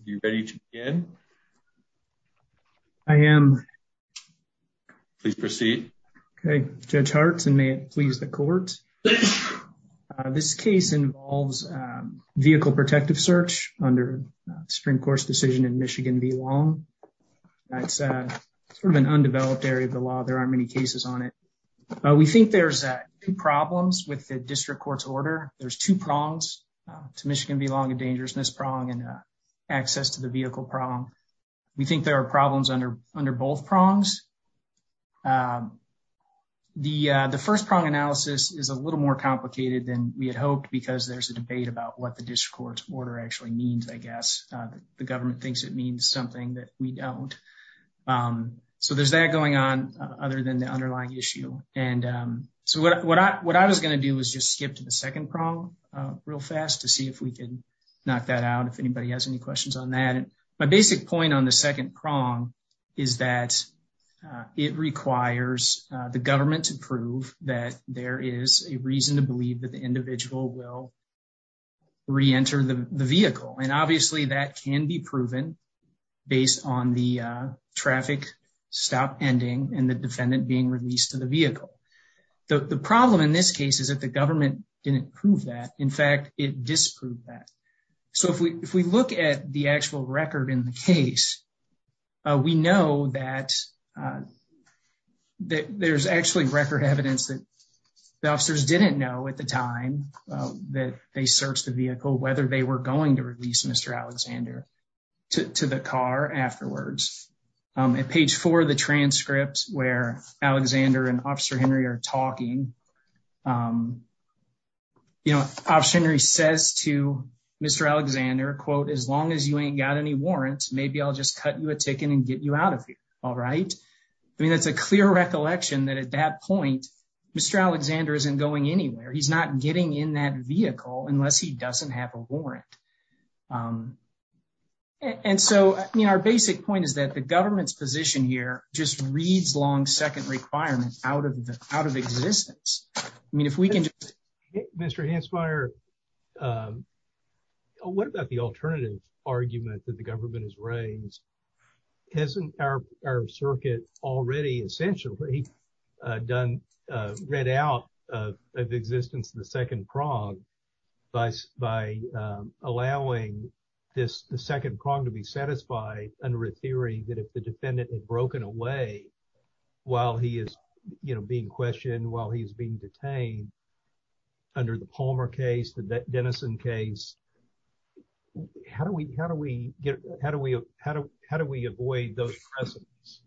Are you ready to begin? I am. Please proceed. Okay, Judge Hartz, and may it please the court. This case involves vehicle protective search under Supreme Court's decision in Michigan v. Long. That's sort of an undeveloped area of the law. There aren't many cases on it. We think there's two problems with the district court's order. There's two prongs to Michigan v. to the vehicle prong. We think there are problems under both prongs. The first prong analysis is a little more complicated than we had hoped because there's a debate about what the district court's order actually means, I guess. The government thinks it means something that we don't. So there's that going on other than the underlying issue. And so what I was going to do was just skip to the second prong real fast to see if we could knock that out if anybody has any questions on that. And my basic point on the second prong is that it requires the government to prove that there is a reason to believe that the individual will re-enter the vehicle. And obviously that can be proven based on the traffic stop ending and the defendant being released to the vehicle. The problem in this case is that the government didn't prove that. In fact, it disproved that. So if we look at the actual record in the case, we know that there's actually record evidence that the officers didn't know at the time that they searched the vehicle whether they were going to release Mr. Alexander to the car afterwards. At page four of the transcript where Alexander and Officer Henry are talking, Officer Henry says to Mr. Alexander, quote, as long as you ain't got any warrants, maybe I'll just cut you a ticket and get you out of here. All right. I mean, that's a clear recollection that at that point, Mr. Alexander isn't going anywhere. He's not getting in that vehicle unless he doesn't have a warrant. And so our basic point is that the government's position here just reads long second requirements out of existence. I mean, if we can just... Mr. Hansmeier, what about the alternative argument that the government has raised? Hasn't our circuit already essentially read out of existence the second prong by allowing this second prong to be satisfied under a theory that if the defendant had broken away while he is being questioned, while he is being detained under the Palmer case, the Dennison case, how do we avoid those precedents?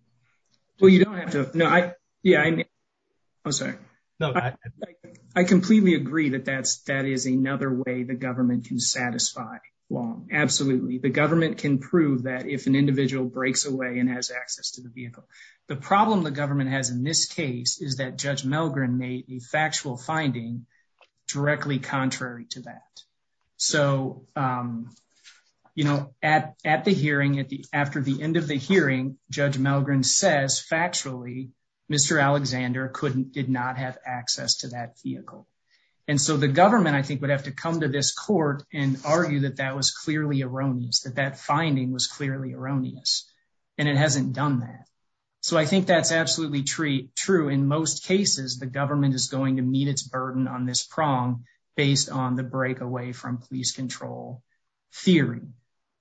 Well, you don't have to... No, I... Yeah, I'm sorry. No, I completely agree that that is another way the government can satisfy long. Absolutely, the government can prove that if an individual breaks away and has access to the vehicle. The problem the government has in this case is that Judge Melgren made a factual finding directly contrary to that. So, you know, at the hearing, after the end of the hearing, Judge Melgren says, factually, Mr. Alexander did not have access to that vehicle. And so the government, I think, would have to come to this court and argue that that was clearly erroneous, that that finding was clearly erroneous. And it hasn't done that. So I think that's absolutely true. In most cases, the government is going to meet its burden on this prong based on the break away from police control theory.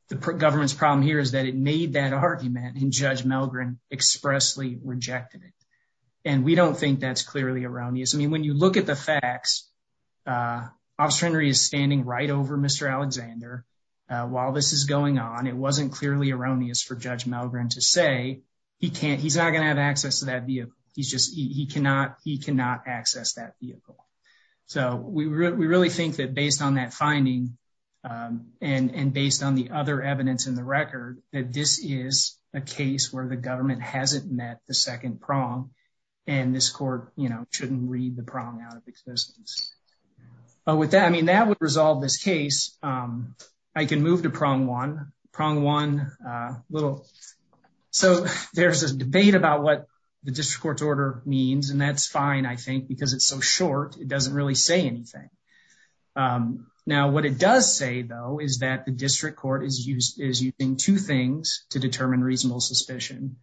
The government's problem here is that it made that argument and Judge Melgren expressly rejected it. And we don't think that's clearly erroneous. I mean, when you look at the facts, Officer Henry is standing right over Mr. Alexander. While this is going on, it wasn't clearly erroneous for Judge Melgren to say, he can't, he's not going to have access to that vehicle. He's just, he cannot, he cannot access that vehicle. So we really think that based on that finding, and based on the other evidence in the record, that this is a case where the government hasn't met the second prong. And this court, you know, shouldn't read the prong out of existence. But with that, I mean, that would resolve this case. I can move to prong one, prong one, little. So there's a debate about what the district court's order means. And that's fine, I think, because it's so short, it doesn't really say anything. Now, what it does say, though, is that the district court is using two things to determine reasonable suspicion.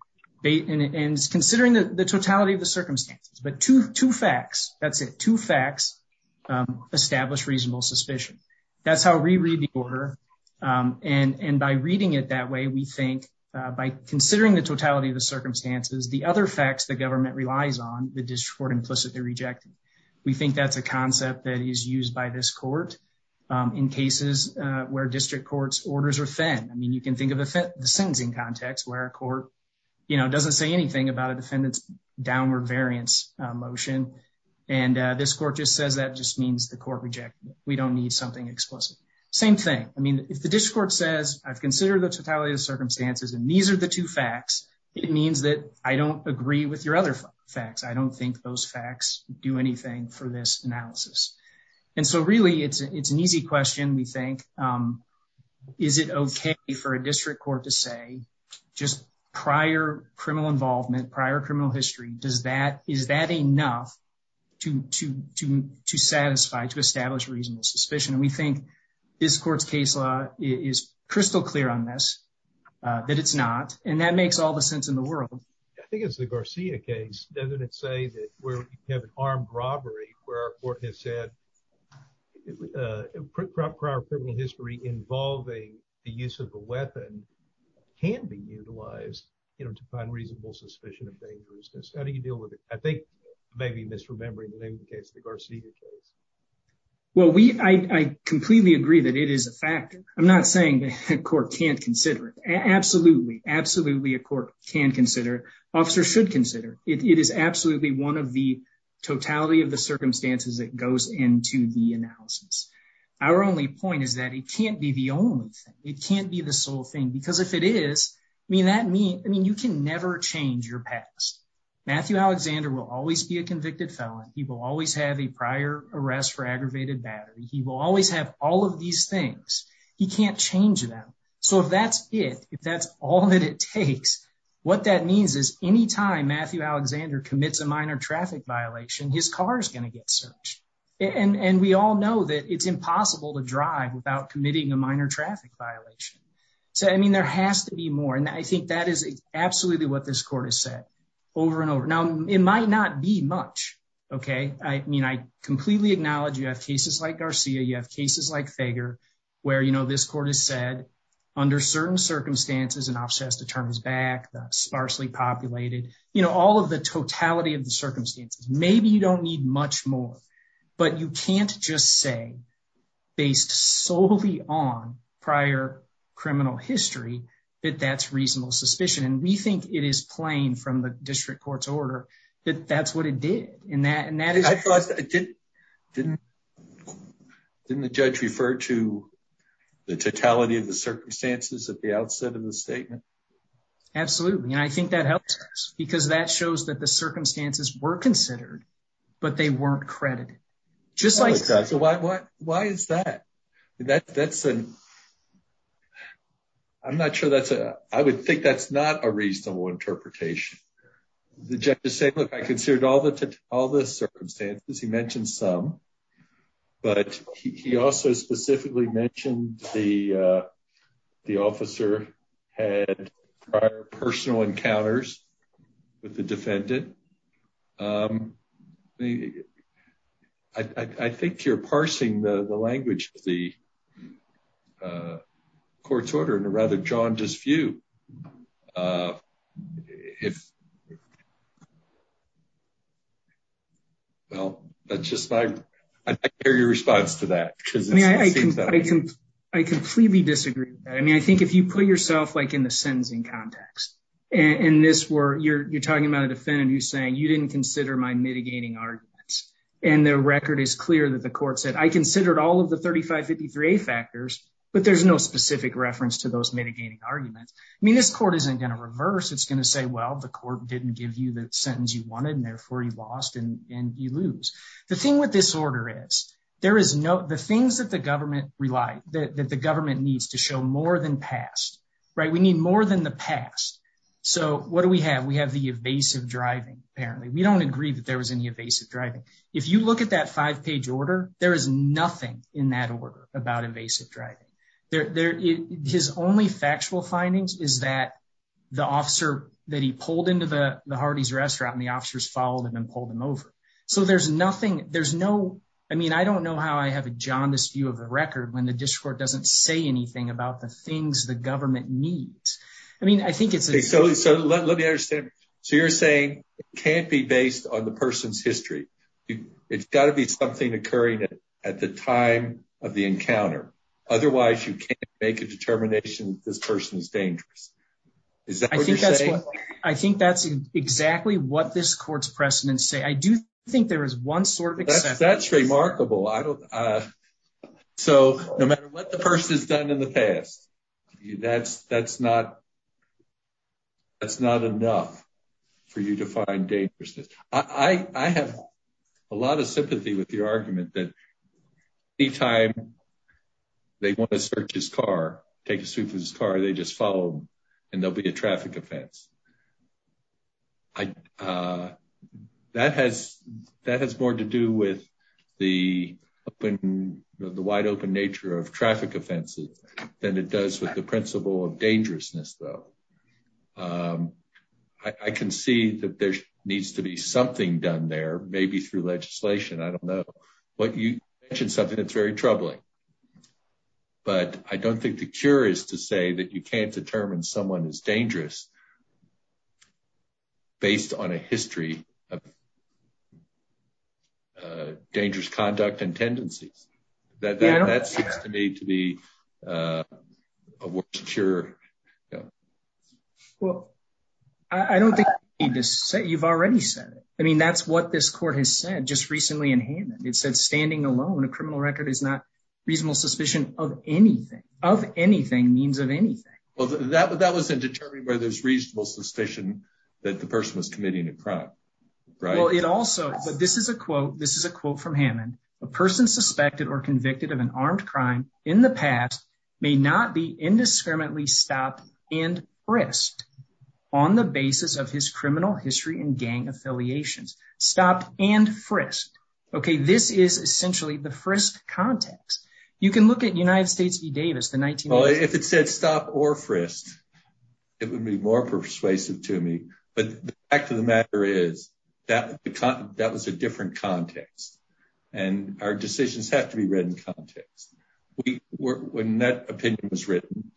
And it's considering the totality of the circumstances, but two facts, that's it, two facts establish reasonable suspicion. That's how we read the order. And by reading it that way, we think, by considering the totality of the circumstances, the other facts the government relies on, the district court implicitly rejected. We think that's a concept that is used by this court in cases where district courts' orders are thin. I mean, you can think of the sentencing context where a court, you know, doesn't say anything about a defendant's downward variance motion. And this court just says that just means the court rejected it. We don't need something explicit. Same thing. I mean, if the district court says, I've considered the totality of facts, I don't think those facts do anything for this analysis. And so really, it's an easy question, we think. Is it okay for a district court to say, just prior criminal involvement, prior criminal history, does that, is that enough to satisfy, to establish reasonable suspicion? And we think this court's case law is crystal clear on this, that it's not. And that makes all the sense in the world. I think it's the Garcia case, doesn't it say that where you have an armed robbery, where a court has said, prior criminal history involving the use of a weapon can be utilized, you know, to find reasonable suspicion of dangerousness. How do you deal with it? I think maybe misremembering the name of the case, the Garcia case. Well, we, I completely agree that it is a factor. I'm not saying the court can't consider it. Absolutely, absolutely a court can consider, officer should consider. It is absolutely one of the totality of the circumstances that goes into the analysis. Our only point is that it can't be the only thing. It can't be the sole thing, because if it is, I mean, that means, I mean, you can never change your past. Matthew Alexander will always be a convicted felon. He will always have a prior arrest for aggravated battery. He will always have all of these things. He can't change them. So if that's it, if that's all that it takes, what that means is any time Matthew Alexander commits a minor traffic violation, his car is going to get searched. And we all know that it's impossible to drive without committing a minor traffic violation. So, I mean, there has to be more. And I think that is absolutely what this court has said over and over. Now, it might not be much, okay? I mean, I completely acknowledge you have cases like Garcia, you have cases like this. I mean, I completely agree with what this court has said. Under certain circumstances, an officer has to turn his back, sparsely populated, you know, all of the totality of the circumstances. Maybe you don't need much more. But you can't just say, based solely on prior criminal history, that that's reasonable suspicion. And we think it is plain from the district court's order that that's what it did. And that is... I thought, didn't the judge refer to the totality of the circumstances at the outset of the statement? Absolutely. And I think that helps us because that shows that the circumstances were considered, but they weren't credited. Why is that? I'm not sure that's a... I would think that's not a reasonable interpretation. The judge is saying, look, I considered all the circumstances. He mentioned some, but he also specifically mentioned the officer had prior personal encounters with the defendant. I think you're parsing the language of the court's order, and rather drawn to this view. Well, that's just my... I'd like to hear your response to that. I completely disagree. I mean, I think if you put yourself like in the sentencing context, and you're talking about a defendant who's saying, you didn't consider my mitigating arguments. And the record is clear that the court said, I considered all of the 3553A factors, but there's no specific reference to those mitigating arguments. I mean, this court isn't going to reverse. It's going to say, well, the court didn't give you the sentence you wanted, and therefore you lost and you lose. The thing with this order is, there is no... The things that the government relies... That the government needs to show more than past, right? We need more than the past. So what do we have? We have the evasive driving, apparently. We don't agree that there was any evasive driving. If you look at that five page order, there is nothing in that order about evasive driving. His only factual findings is that the officer that he pulled into the Hardee's restaurant and the officers followed him and pulled him over. So there's nothing... There's no... I mean, I don't know how I have a jaundiced view of the record when the district court doesn't say anything about the things the government needs. I mean, I think it's... So let me understand. So you're saying it can't be based on the person's at the time of the encounter. Otherwise, you can't make a determination that this person is dangerous. Is that what you're saying? I think that's what... I think that's exactly what this court's precedents say. I do think there is one sort of exception. That's remarkable. I don't... So no matter what the person has done in the past, that's not... That's not enough for you to find dangerousness. I have a lot of sympathy with your argument that any time they want to search his car, take a sweep of his car, they just follow him and there'll be a traffic offense. That has more to do with the wide open nature of traffic offenses than it does with the principle of dangerousness, though. I can see that there needs to be something done there, maybe through legislation. I don't know. You mentioned something that's very troubling, but I don't think the cure is to say that you can't determine someone is dangerous based on a history of a worse cure. Well, I don't think you need to say... You've already said it. I mean, that's what this court has said just recently in Hammond. It said, standing alone, a criminal record is not reasonable suspicion of anything. Of anything means of anything. Well, that wasn't determined by this reasonable suspicion that the person was committing a crime, right? Well, it also... But this is a quote. This is a quote from Hammond. A person suspected or convicted of an armed crime in the past may not be indiscriminately stopped and frisked on the basis of his criminal history and gang affiliations. Stopped and frisked. Okay, this is essentially the frisked context. You can look at United States v. Davis, the 1980s... Well, if it said stop or frisked, it would be more persuasive to me, but the fact of the matter is that was a different context and our decisions have to be read in context. When that opinion was written,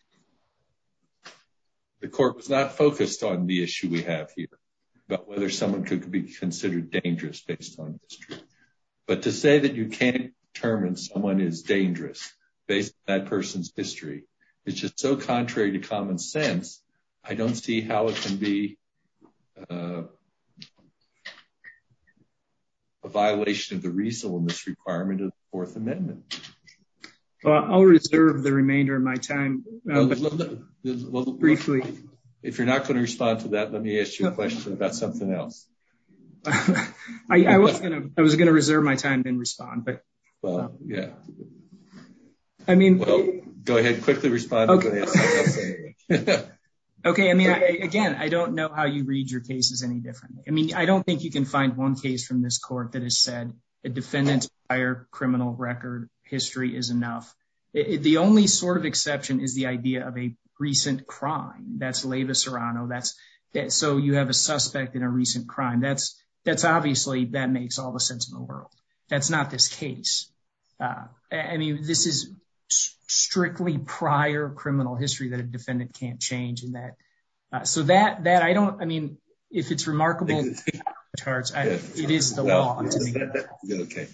the court was not focused on the issue we have here about whether someone could be considered dangerous based on history. But to say that you can't determine someone is dangerous based on that person's history is just so contrary to common sense. I don't see how it can be a violation of the reasonableness requirement of the Fourth Amendment. Well, I'll reserve the remainder of my time briefly. If you're not going to respond to that, let me ask you a question about something else. I was going to reserve my time and respond, but... Well, yeah. I mean... Well, go ahead and quickly respond. Okay. Okay. I mean, again, I don't know how you read your cases any different. I mean, I don't think you can find one case from this court that has said a defendant's prior criminal record history is enough. The only sort of exception is the idea of a recent crime. That's Leyva Serrano. So you have a suspect in a recent crime. That's obviously... That makes all the world. That's not this case. I mean, this is strictly prior criminal history that a defendant can't change in that. So that, I don't... I mean, if it's remarkable, it is the law. Okay.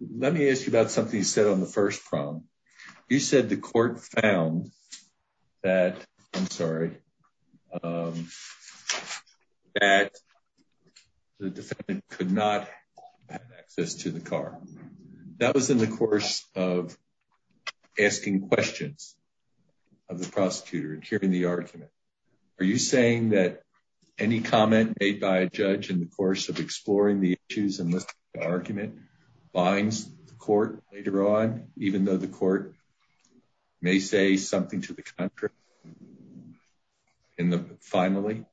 Let me ask you about something you said on the first problem. You said the court found that, I'm sorry, that the defendant could not have access to the car. That was in the course of asking questions of the prosecutor and hearing the argument. Are you saying that any comment made by a judge in the course of exploring the issues and listening to the argument binds the court later on, even though the court may say something to the country finally?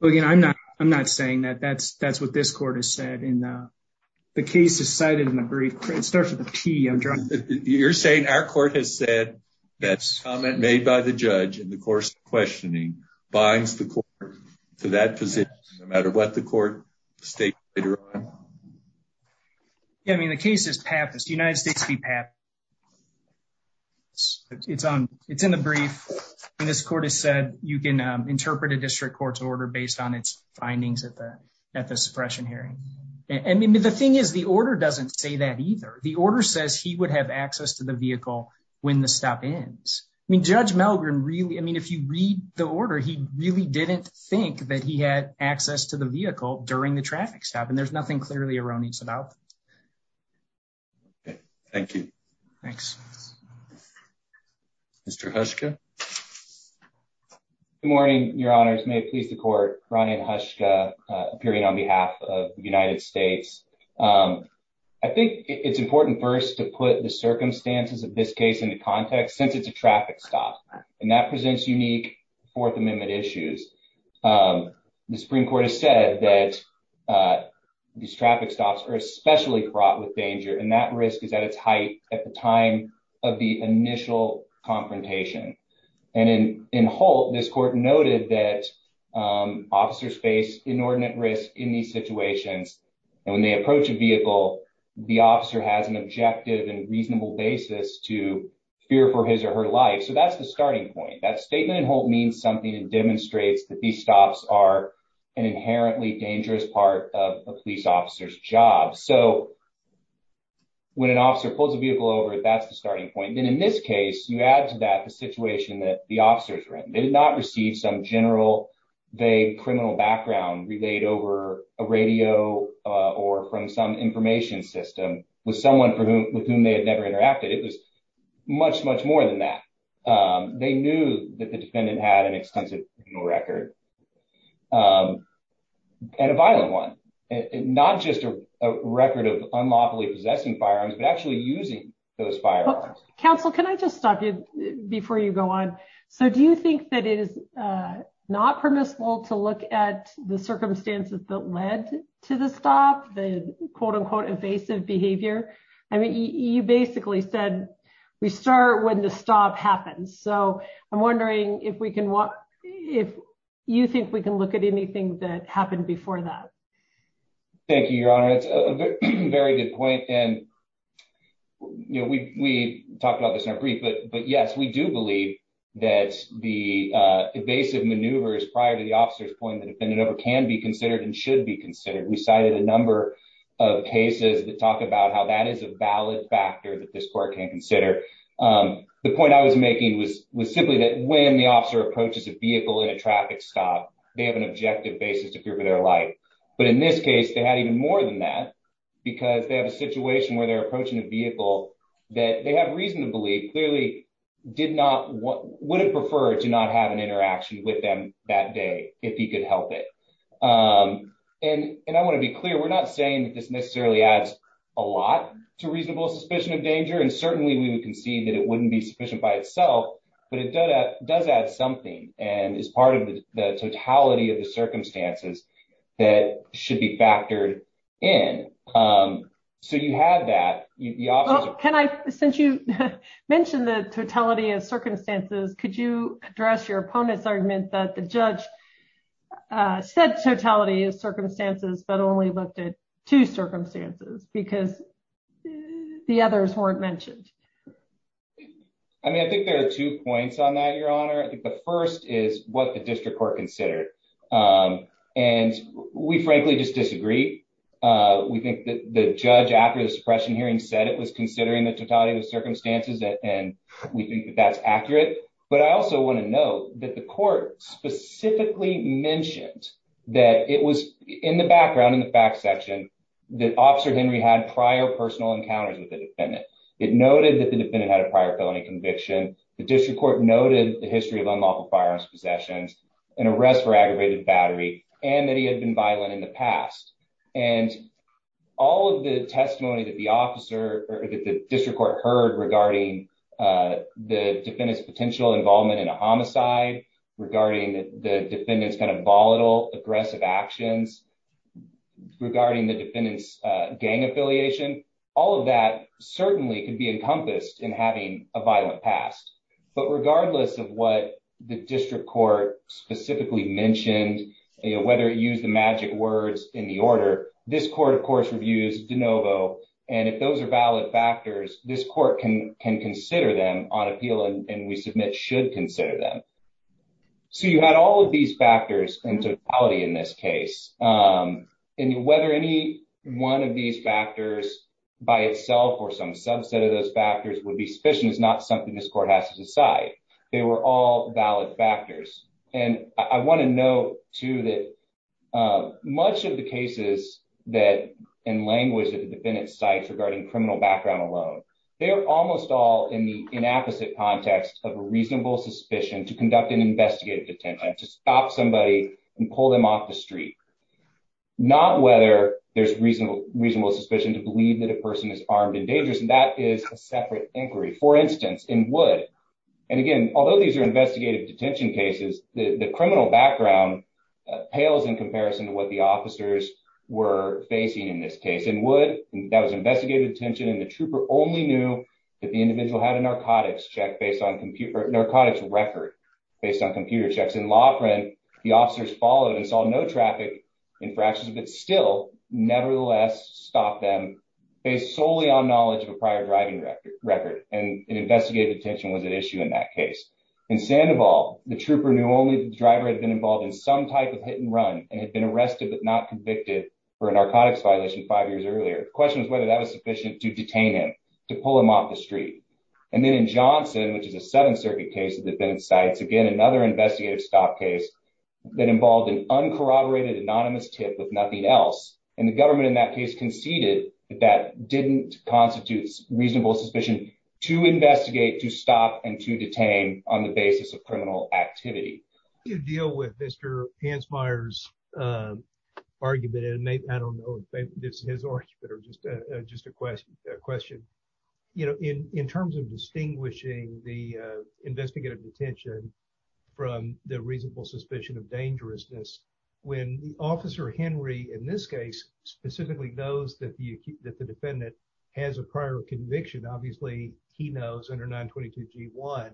Well, again, I'm not saying that. That's what this court has said. The case is cited in a brief. It starts with a T. You're saying our court has said that comment made by the judge in the course of questioning binds the court to that position no matter what the court states later on? Yeah. I mean, the case is PAP. It's the United States v. PAP. It's in the brief, and this court has said you can interpret a district court's order based on its findings at the suppression hearing. I mean, the thing is, the order doesn't say that either. The order says he would have access to the vehicle when the stop ends. I mean, Judge Milgren really... I mean, if you read the order, he really didn't think that he had access to the vehicle during the traffic stop, and there's nothing clearly erroneous about it. Okay. Thank you. Thanks. Mr. Hushka? Good morning, Your Honors. May it please the court, Ronnie Hushka, appearing on behalf of the United States. I think it's important first to put the circumstances of this case into context since it's a traffic stop, and that presents unique Fourth Amendment issues. The Supreme Court has said that these traffic stops are especially fraught with danger, and that risk is at its height at the time of the initial confrontation. And in Holt, this court noted that officers face inordinate risk in these situations, and when they approach a vehicle, the officer has an objective and reasonable basis to fear for his or her life. So that's the starting point. That statement in Holt means something. It demonstrates that these stops are inherently dangerous part of a police officer's job. So when an officer pulls a vehicle over, that's the starting point. And in this case, you add to that the situation that the officers were in. They did not receive some general vague criminal background relayed over a radio or from some information system with someone with whom they had never interacted. It was much, much more than that. They knew that the defendant had an extensive criminal record. And a violent one. Not just a record of unlawfully possessing firearms, but actually using those firearms. Counsel, can I just stop you before you go on? So do you think that it is not permissible to look at the circumstances that led to the stop, the quote-unquote evasive behavior? I mean, you basically said we start when the stop happens. So I'm wondering if we can if you think we can look at anything that happened before that. Thank you, Your Honor. That's a very good point. And we talked about this in our brief, but yes, we do believe that the evasive maneuvers prior to the officer's point, the defendant can be considered and should be considered. We cited a number of cases that talk about how that is a valid factor that this court can consider. The point I was making was simply that when the officer approaches a vehicle in a traffic stop, they have an objective basis to fear for their life. But in this case, they had even more than that because they have a situation where they're approaching a vehicle that they have reason to believe clearly did not, would have preferred to not have an interaction with them that day if he could help it. And I want to be clear, we're not saying that this necessarily adds a lot to reasonable suspicion of danger. And certainly, we would concede that it wouldn't be sufficient by itself, but it does add something and is part of the totality of the circumstances that should be factored in. So you have that. Can I, since you mentioned the totality of circumstances, could you address your opponent's argument that the judge said totality of circumstances, but only looked at two circumstances because the others weren't mentioned? I mean, I think there are two points on that, Your Honor. I think the first is what the district court considered. And we frankly just disagree. We think that the judge after the suppression hearing said it was considering the totality of the circumstances, and we think that that's accurate. But I also want to note that the court specifically mentioned that it was in the background, in the fact section, that Officer Henry had prior personal encounters with the defendant. It noted that the defendant had a prior felony conviction. The district court noted the history of unlawful firearms possessions, an arrest for aggravated battery, and that he had been violent in the past. And all of the testimony that the officer, that the district court heard regarding the defendant's potential involvement in a homicide, regarding the defendant's kind of volatile, aggressive actions, regarding the defendant's gang affiliation, all of that certainly could be encompassed in having a violent past. But regardless of what the district court specifically mentioned, whether it used the magic words in the order, this court, of course, reviews de novo. And if those are valid factors, this court can consider them on appeal, and we submit should consider them. So you had all of these factors in totality in this case. And whether any one of these factors by itself or some subset of those factors would be sufficient is not something this court has to decide. They were all valid factors. And I want to note, too, that much of the cases that, in language that the defendant cites regarding criminal background alone, they're almost all in the inapposite context of a reasonable suspicion to conduct an investigative detention, to stop somebody and pull them off the street. Not whether there's reasonable suspicion to believe that a person is armed and dangerous, and that is a separate inquiry. For instance, in Wood, and again, although these are investigative detention cases, the criminal background pales in comparison to what the officers were facing in this case. In Wood, that was investigative detention, and the trooper only knew that the individual had a narcotics check based on computer, narcotics record based on computer checks. In Loughran, the officers followed and saw no traffic infractions, but still, nevertheless, stopped them based solely on knowledge of a prior driving record, and investigative detention was at issue in that case. In Sandoval, the trooper knew only the driver had been involved in some type of hit and run, and had been arrested but not convicted for a narcotics violation five years earlier. The question was whether that was sufficient to detain him, to pull him off the street. And then in Johnson, which is a Seventh Circuit case that the defendant cites, again, another investigative stop case that involved an uncorroborated anonymous tip with nothing else, and the government in that case conceded that that didn't constitute reasonable suspicion to investigate, to stop, and to detain on the basis of criminal activity. You deal with Mr. Pansmeier's argument, and maybe, I don't know if this is his argument, or just a question. You know, in terms of distinguishing the investigative detention from the reasonable suspicion of dangerousness, when Officer Henry, in this case, specifically knows that the defendant has a prior conviction, obviously, he knows under 922 G1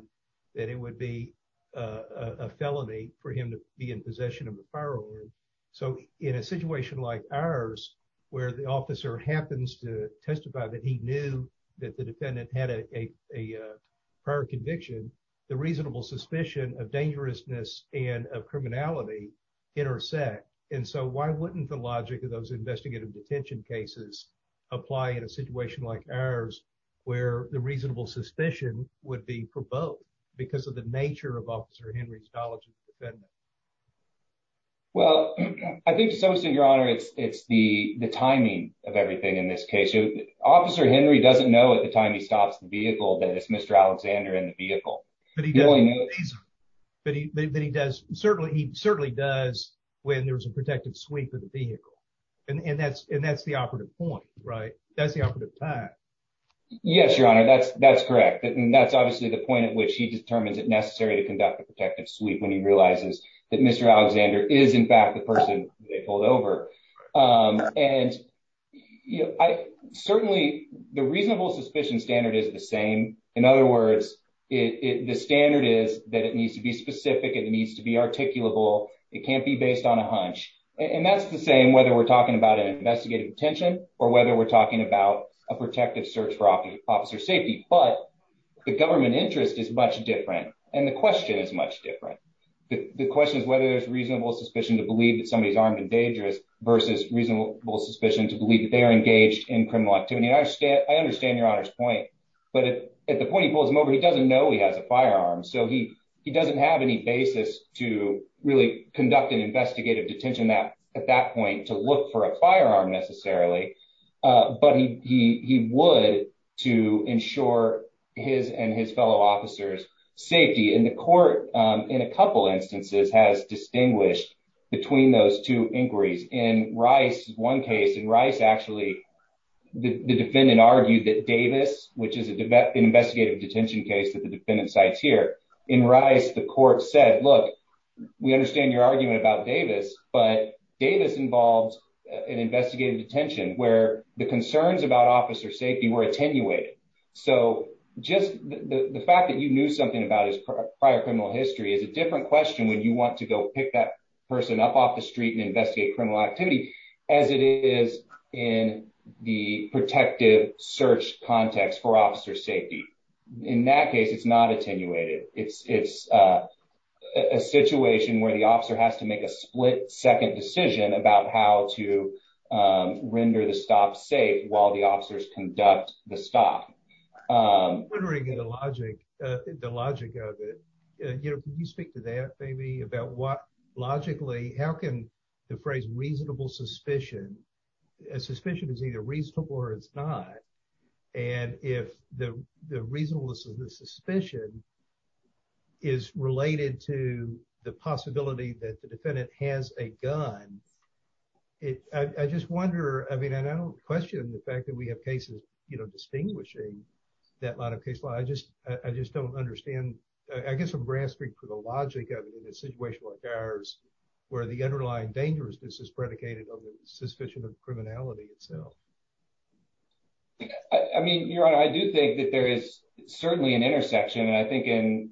that it would be a felony for him to be in possession of a firearm. So, in a situation like ours, where the officer happens to testify that he knew that the defendant had a prior conviction, the reasonable suspicion of dangerousness and of criminality intersect. And so, why wouldn't the logic of those investigative detention cases apply in a situation where the reasonable suspicion would be for both, because of the nature of Officer Henry's knowledge of the defendant? Well, I think, to some extent, Your Honor, it's the timing of everything in this case. Officer Henry doesn't know at the time he stops the vehicle that it's Mr. Alexander in the vehicle. But he certainly does when there's a protected sweep of the vehicle, and that's the operative point, right? That's the operative time. Yes, Your Honor, that's correct. And that's obviously the point at which he determines it necessary to conduct a protective sweep when he realizes that Mr. Alexander is, in fact, the person they pulled over. And certainly, the reasonable suspicion standard is the same. In other words, the standard is that it needs to be specific, it needs to be articulable, it can't be based on a hunch. And that's the same whether we're talking about an investigative detention or whether we're talking about a protective search for officer safety. But the government interest is much different, and the question is much different. The question is whether there's reasonable suspicion to believe that somebody's armed and dangerous versus reasonable suspicion to believe that they are engaged in criminal activity. I understand Your Honor's point, but at the point he pulls him over, he doesn't know he has a firearm. So he doesn't have any basis to really conduct an investigative detention at that point to look for a firearm necessarily, but he would to ensure his and his fellow officers' safety. And the court, in a couple instances, has distinguished between those two inquiries. In one case, in Rice, actually, the defendant argued that Davis, which is an investigative detention case that the defendant cites here, in Rice, the court said, look, we understand your an investigative detention where the concerns about officer safety were attenuated. So just the fact that you knew something about his prior criminal history is a different question when you want to go pick that person up off the street and investigate criminal activity, as it is in the protective search context for officer safety. In that case, it's not attenuated. It's a situation where the officer has to make a split-second decision about how to render the stop safe while the officers conduct the stop. I'm wondering the logic of it. Can you speak to that, maybe, about what, logically, how can the phrase reasonable suspicion, a suspicion is either reasonable or it's not, and if the reasonableness of the suspicion is related to the possibility that the defendant has a gun, I just wonder, I mean, and I don't question the fact that we have cases, you know, distinguishing that line of case law. I just don't understand. I guess I'm grasping for the logic of it in a situation like ours where the underlying dangerousness is predicated on the suspicion of your honor. I do think that there is certainly an intersection, and I think in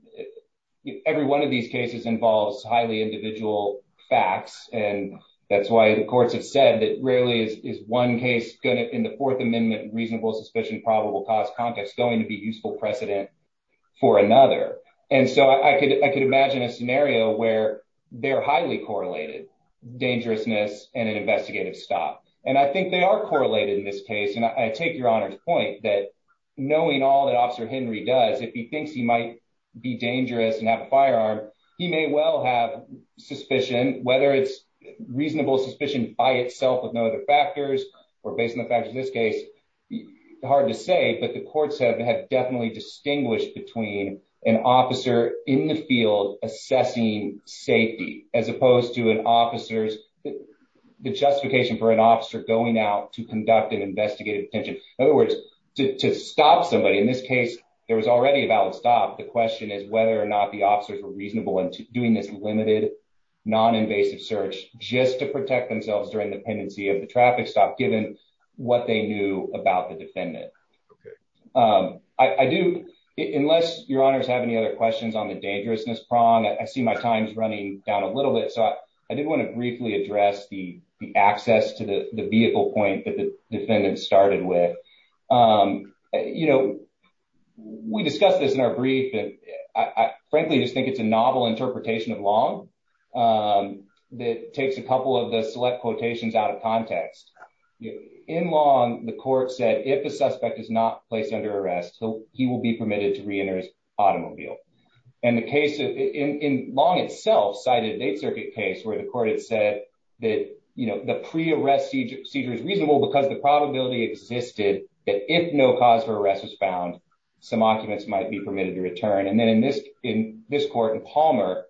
every one of these cases involves highly individual facts, and that's why the courts have said that rarely is one case going to, in the Fourth Amendment, reasonable suspicion, probable cause context, going to be useful precedent for another. And so I could imagine a scenario where they're highly correlated, dangerousness and an investigative stop, and I think they are correlated in this case, and I take your honor's point that knowing all that Officer Henry does, if he thinks he might be dangerous and have a firearm, he may well have suspicion, whether it's reasonable suspicion by itself with no other factors, or based on the fact of this case, hard to say, but the courts have definitely distinguished between an officer in the field assessing safety as opposed to an officer's, the justification for an officer going out to conduct an investigative detention. In other words, to stop somebody, in this case, there was already a valid stop. The question is whether or not the officers were reasonable in doing this limited non-invasive search just to protect themselves during the pendency of the traffic stop given what they knew about the defendant. I do, unless your honors have any other questions on the dangerousness prong, I see my time's running down a little bit, so I do want to briefly address the access to the vehicle point that the defendant started with. We discussed this in our brief, and I frankly just think it's a novel interpretation of Long that takes a couple of the select quotations out of context. In Long, the court said if a suspect is not placed under arrest, he will be permitted to reenter his circuit. The pre-arrest seizure is reasonable because the probability existed that if no cause for arrest was found, some occupants might be permitted to return. In Palmer,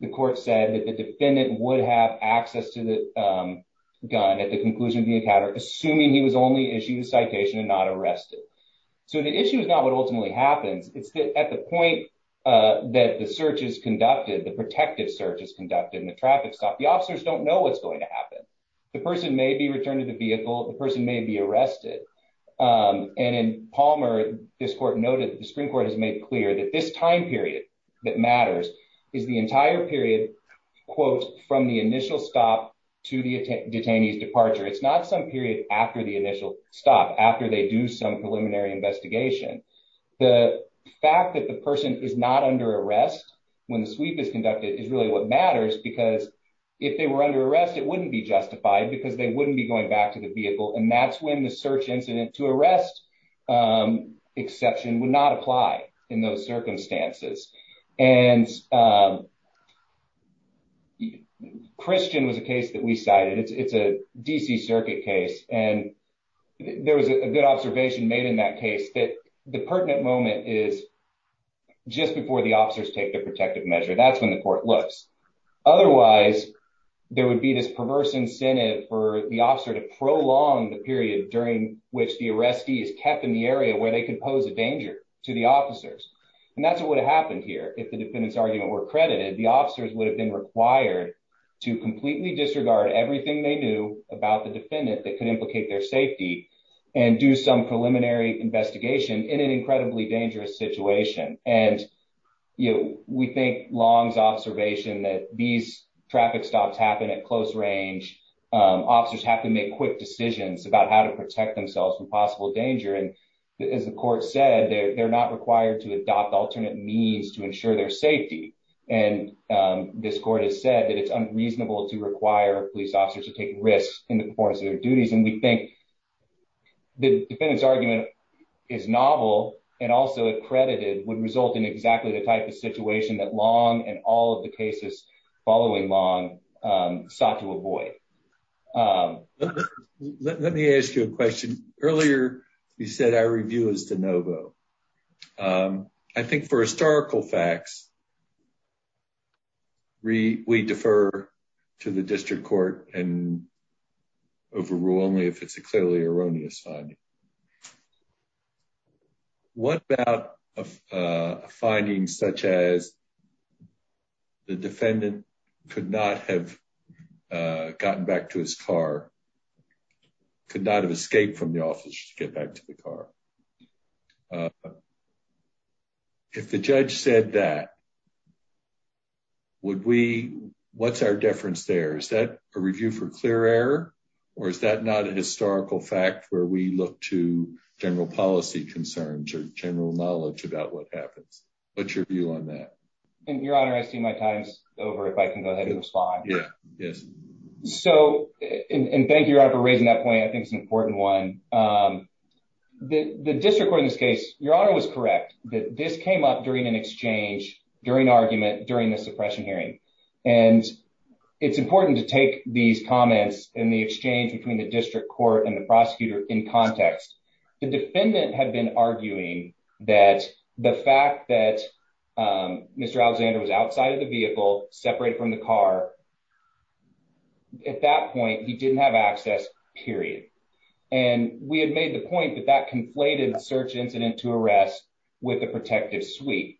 the court said that the defendant would have access to the gun at the conclusion of the encounter, assuming he was only issued a citation and not arrested. The issue is not what ultimately happens. It's at the point that the search is conducted, the protective search is conducted in the traffic stop, the officers don't know what's going to happen. The person may be returned to the vehicle, the person may be arrested. In Palmer, this court noted that the Supreme Court has made clear that this time period that matters is the entire period, quote, from the initial stop to the detainee's departure. It's not some period after the initial stop, after they do some preliminary investigation. The fact that the person is not under arrest when the sweep is conducted is really what matters because if they were under arrest, it wouldn't be justified because they wouldn't be going back to the vehicle. And that's when the search incident to arrest exception would not apply in those circumstances. And Christian was a case that we cited. It's a DC circuit case. And there was a good observation made in that case that the pertinent moment is just before the officers take the protective measure. That's when the court looks. Otherwise, there would be this perverse incentive for the officer to prolong the period during which the arrestee is kept in the area where they could pose a danger to the officers. And that's what would have happened here. If the defendant's argument were credited, the officers would have been required to completely disregard everything they knew about the defendant that could implicate their safety and do some preliminary investigation in an incredibly dangerous situation. And, you know, we think Long's observation that these traffic stops happen at close range, officers have to make quick decisions about how to protect themselves from possible danger. And as the court said, they're not required to adopt alternate means to ensure their safety. And this court has said that it's unreasonable to require police officers to take risks in the performance of their duties. And we think the defendant's argument is novel and also accredited would result in exactly the type of situation that Long and all of the cases following Long sought to avoid. Let me ask you a question. Earlier, you said our review is de novo. Um, I think for historical facts, we defer to the district court and overrule only if it's a clearly erroneous finding. What about a finding such as the defendant could not have gotten back to his car, could not have escaped from the office to get back to the car? Uh, if the judge said that, would we, what's our difference there? Is that a review for clear error? Or is that not a historical fact where we look to general policy concerns or general knowledge about what happens? What's your view on that? And your honor, I see my time's over. If I can go ahead and respond. Yeah, yes. So, and thank you for raising that point. I think it's an important one. Um, the, the district court in this case, your honor was correct that this came up during an exchange during argument during the suppression hearing. And it's important to take these comments and the exchange between the district court and the prosecutor in context. The defendant had been arguing that the fact that, um, Mr. Alexander was outside of the vehicle, separated from the car at that point, he didn't have access period. And we had made the point that that conflated search incident to arrest with a protective suite.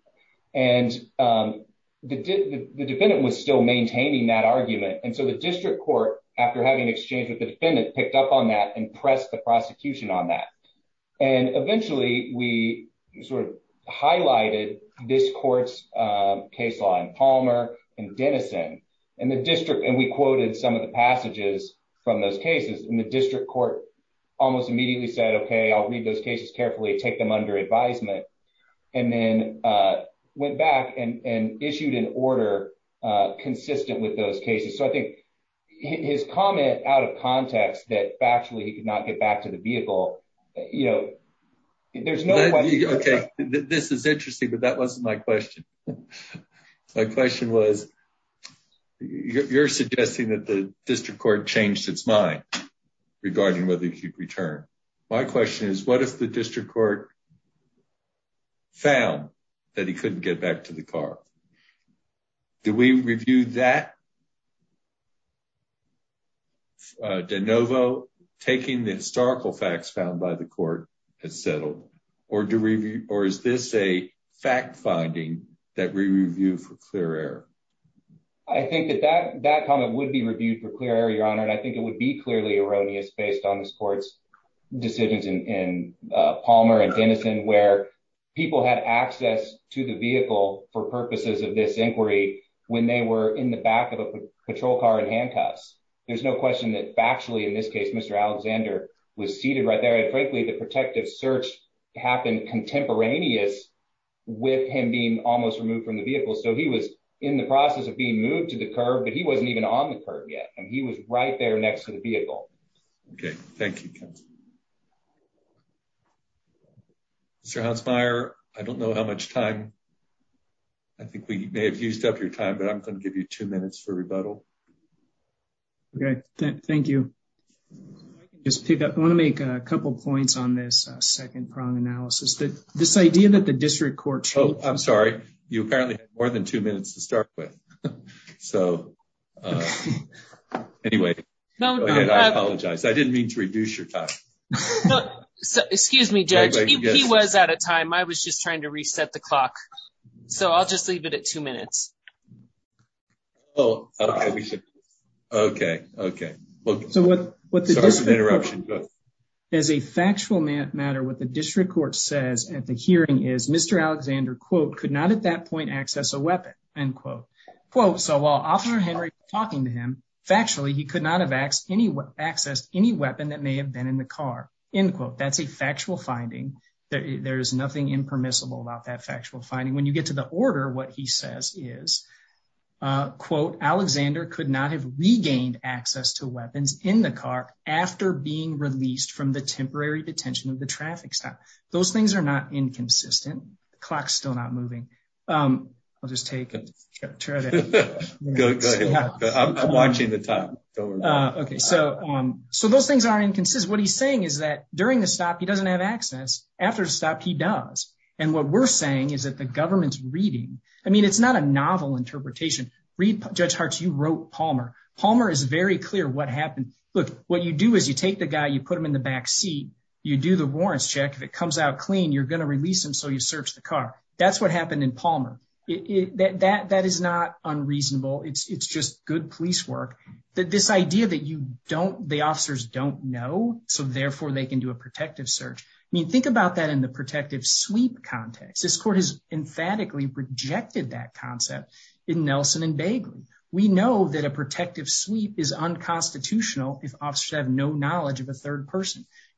And, um, the, the defendant was still maintaining that argument. And so the district court, after having exchanged with the defendant, picked up on that and press the prosecution on that. And eventually we sort of this court's, um, case law and Palmer and Denison and the district. And we quoted some of the passages from those cases and the district court almost immediately said, okay, I'll read those cases carefully, take them under advisement. And then, uh, went back and, and issued an order, uh, consistent with those cases. So I think his comment out of context that factually he could get back to the vehicle, you know, there's no, okay. This is interesting, but that wasn't my question. My question was you're suggesting that the district court changed its mind regarding whether he could return. My question is what if the district court found that he couldn't get back to the car? Do we review that? Uh, DeNovo taking the historical facts found by the court has settled or do review, or is this a fact finding that we review for clear error? I think that that, that comment would be reviewed for clear error, your honor. And I think it would be clearly erroneous based on this court's decisions in, in, uh, Palmer and Denison where people had access to the vehicle for purposes of this inquiry when they were in the back of a patrol car and handcuffs. There's no question that factually in this case, Mr. Alexander was seated right there. And frankly, the protective search happened contemporaneous with him being almost removed from the vehicle. So he was in the process of being moved to the curb, but he wasn't even on the curb yet. And he was right there next to the vehicle. Okay. Thank you. Mr. Hansmeier, I don't know how much time, I think we may have used up your time, but I'm going to give you two minutes for rebuttal. Okay. Thank you. I can just pick up. I want to make a couple of points on this second prong analysis that this idea that the district court. Oh, I'm sorry. You apparently have more than two minutes to start with. So anyway, I apologize. I didn't mean to reduce your time. Excuse me, judge. He was out of time. I was just trying to reset the clock. So I'll just leave it at two minutes. Oh, okay. We should. Okay. Okay. So what, what's the disruption as a factual matter, what the district court says at the hearing is Mr. Alexander, quote, could not at that point, access a weapon end quote, quote. So while officer Henry talking to him factually, he could not have asked any access, any weapon that may have been in the car in quote, that's a factual finding. There's nothing impermissible about that factual finding. When you get to the order, what he says is, quote, Alexander could not have regained access to weapons in the car after being released from the temporary detention of the traffic stop. Those things are not inconsistent. The clock's still not moving. I'll just take, I'm watching the time. Okay. So, so those things aren't inconsistent. What he's saying is that during the stop, he doesn't have access after the stop he does. And what we're saying is that the government's reading, I mean, it's not a novel interpretation. Read judge Hart's. You wrote Palmer. Palmer is very clear. What happened? Look, what you do is you take the guy, you put him in the back seat, you do the warrants check. If it comes out clean, you're going to release him. So you search the car. That's what happened in Palmer. It, that, that, that is not unreasonable. It's, it's just good police work that this idea that you don't, the officers don't know. So therefore they can do a protective search. I mean, think about that in the protective sweep context, this court has emphatically rejected that concept in Nelson and Bagley. We know that a protective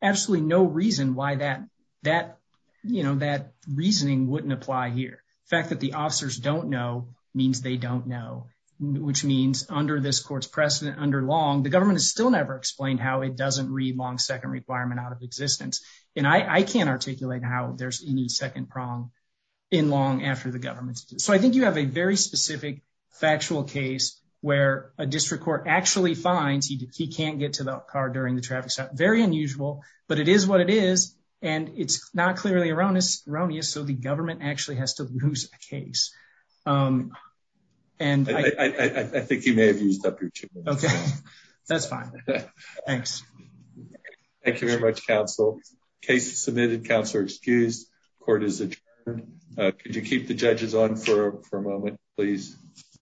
Absolutely. No reason why that, that, you know, that reasoning wouldn't apply here. The fact that the officers don't know means they don't know, which means under this court's precedent under long, the government has still never explained how it doesn't read long second requirement out of existence. And I can't articulate how there's any second prong in long after the government. So I think you have a very specific factual case where a district court actually finds he, he can't get to the car during the traffic stop. Very unusual, but it is what it is. And it's not clearly erroneous, erroneous. So the government actually has to lose a case. And I think you may have used up your two minutes. Okay. That's fine. Thanks. Thank you very much, counsel. Case submitted. Counselor excused. Court is adjourned. Could you keep the judges on for a moment, please?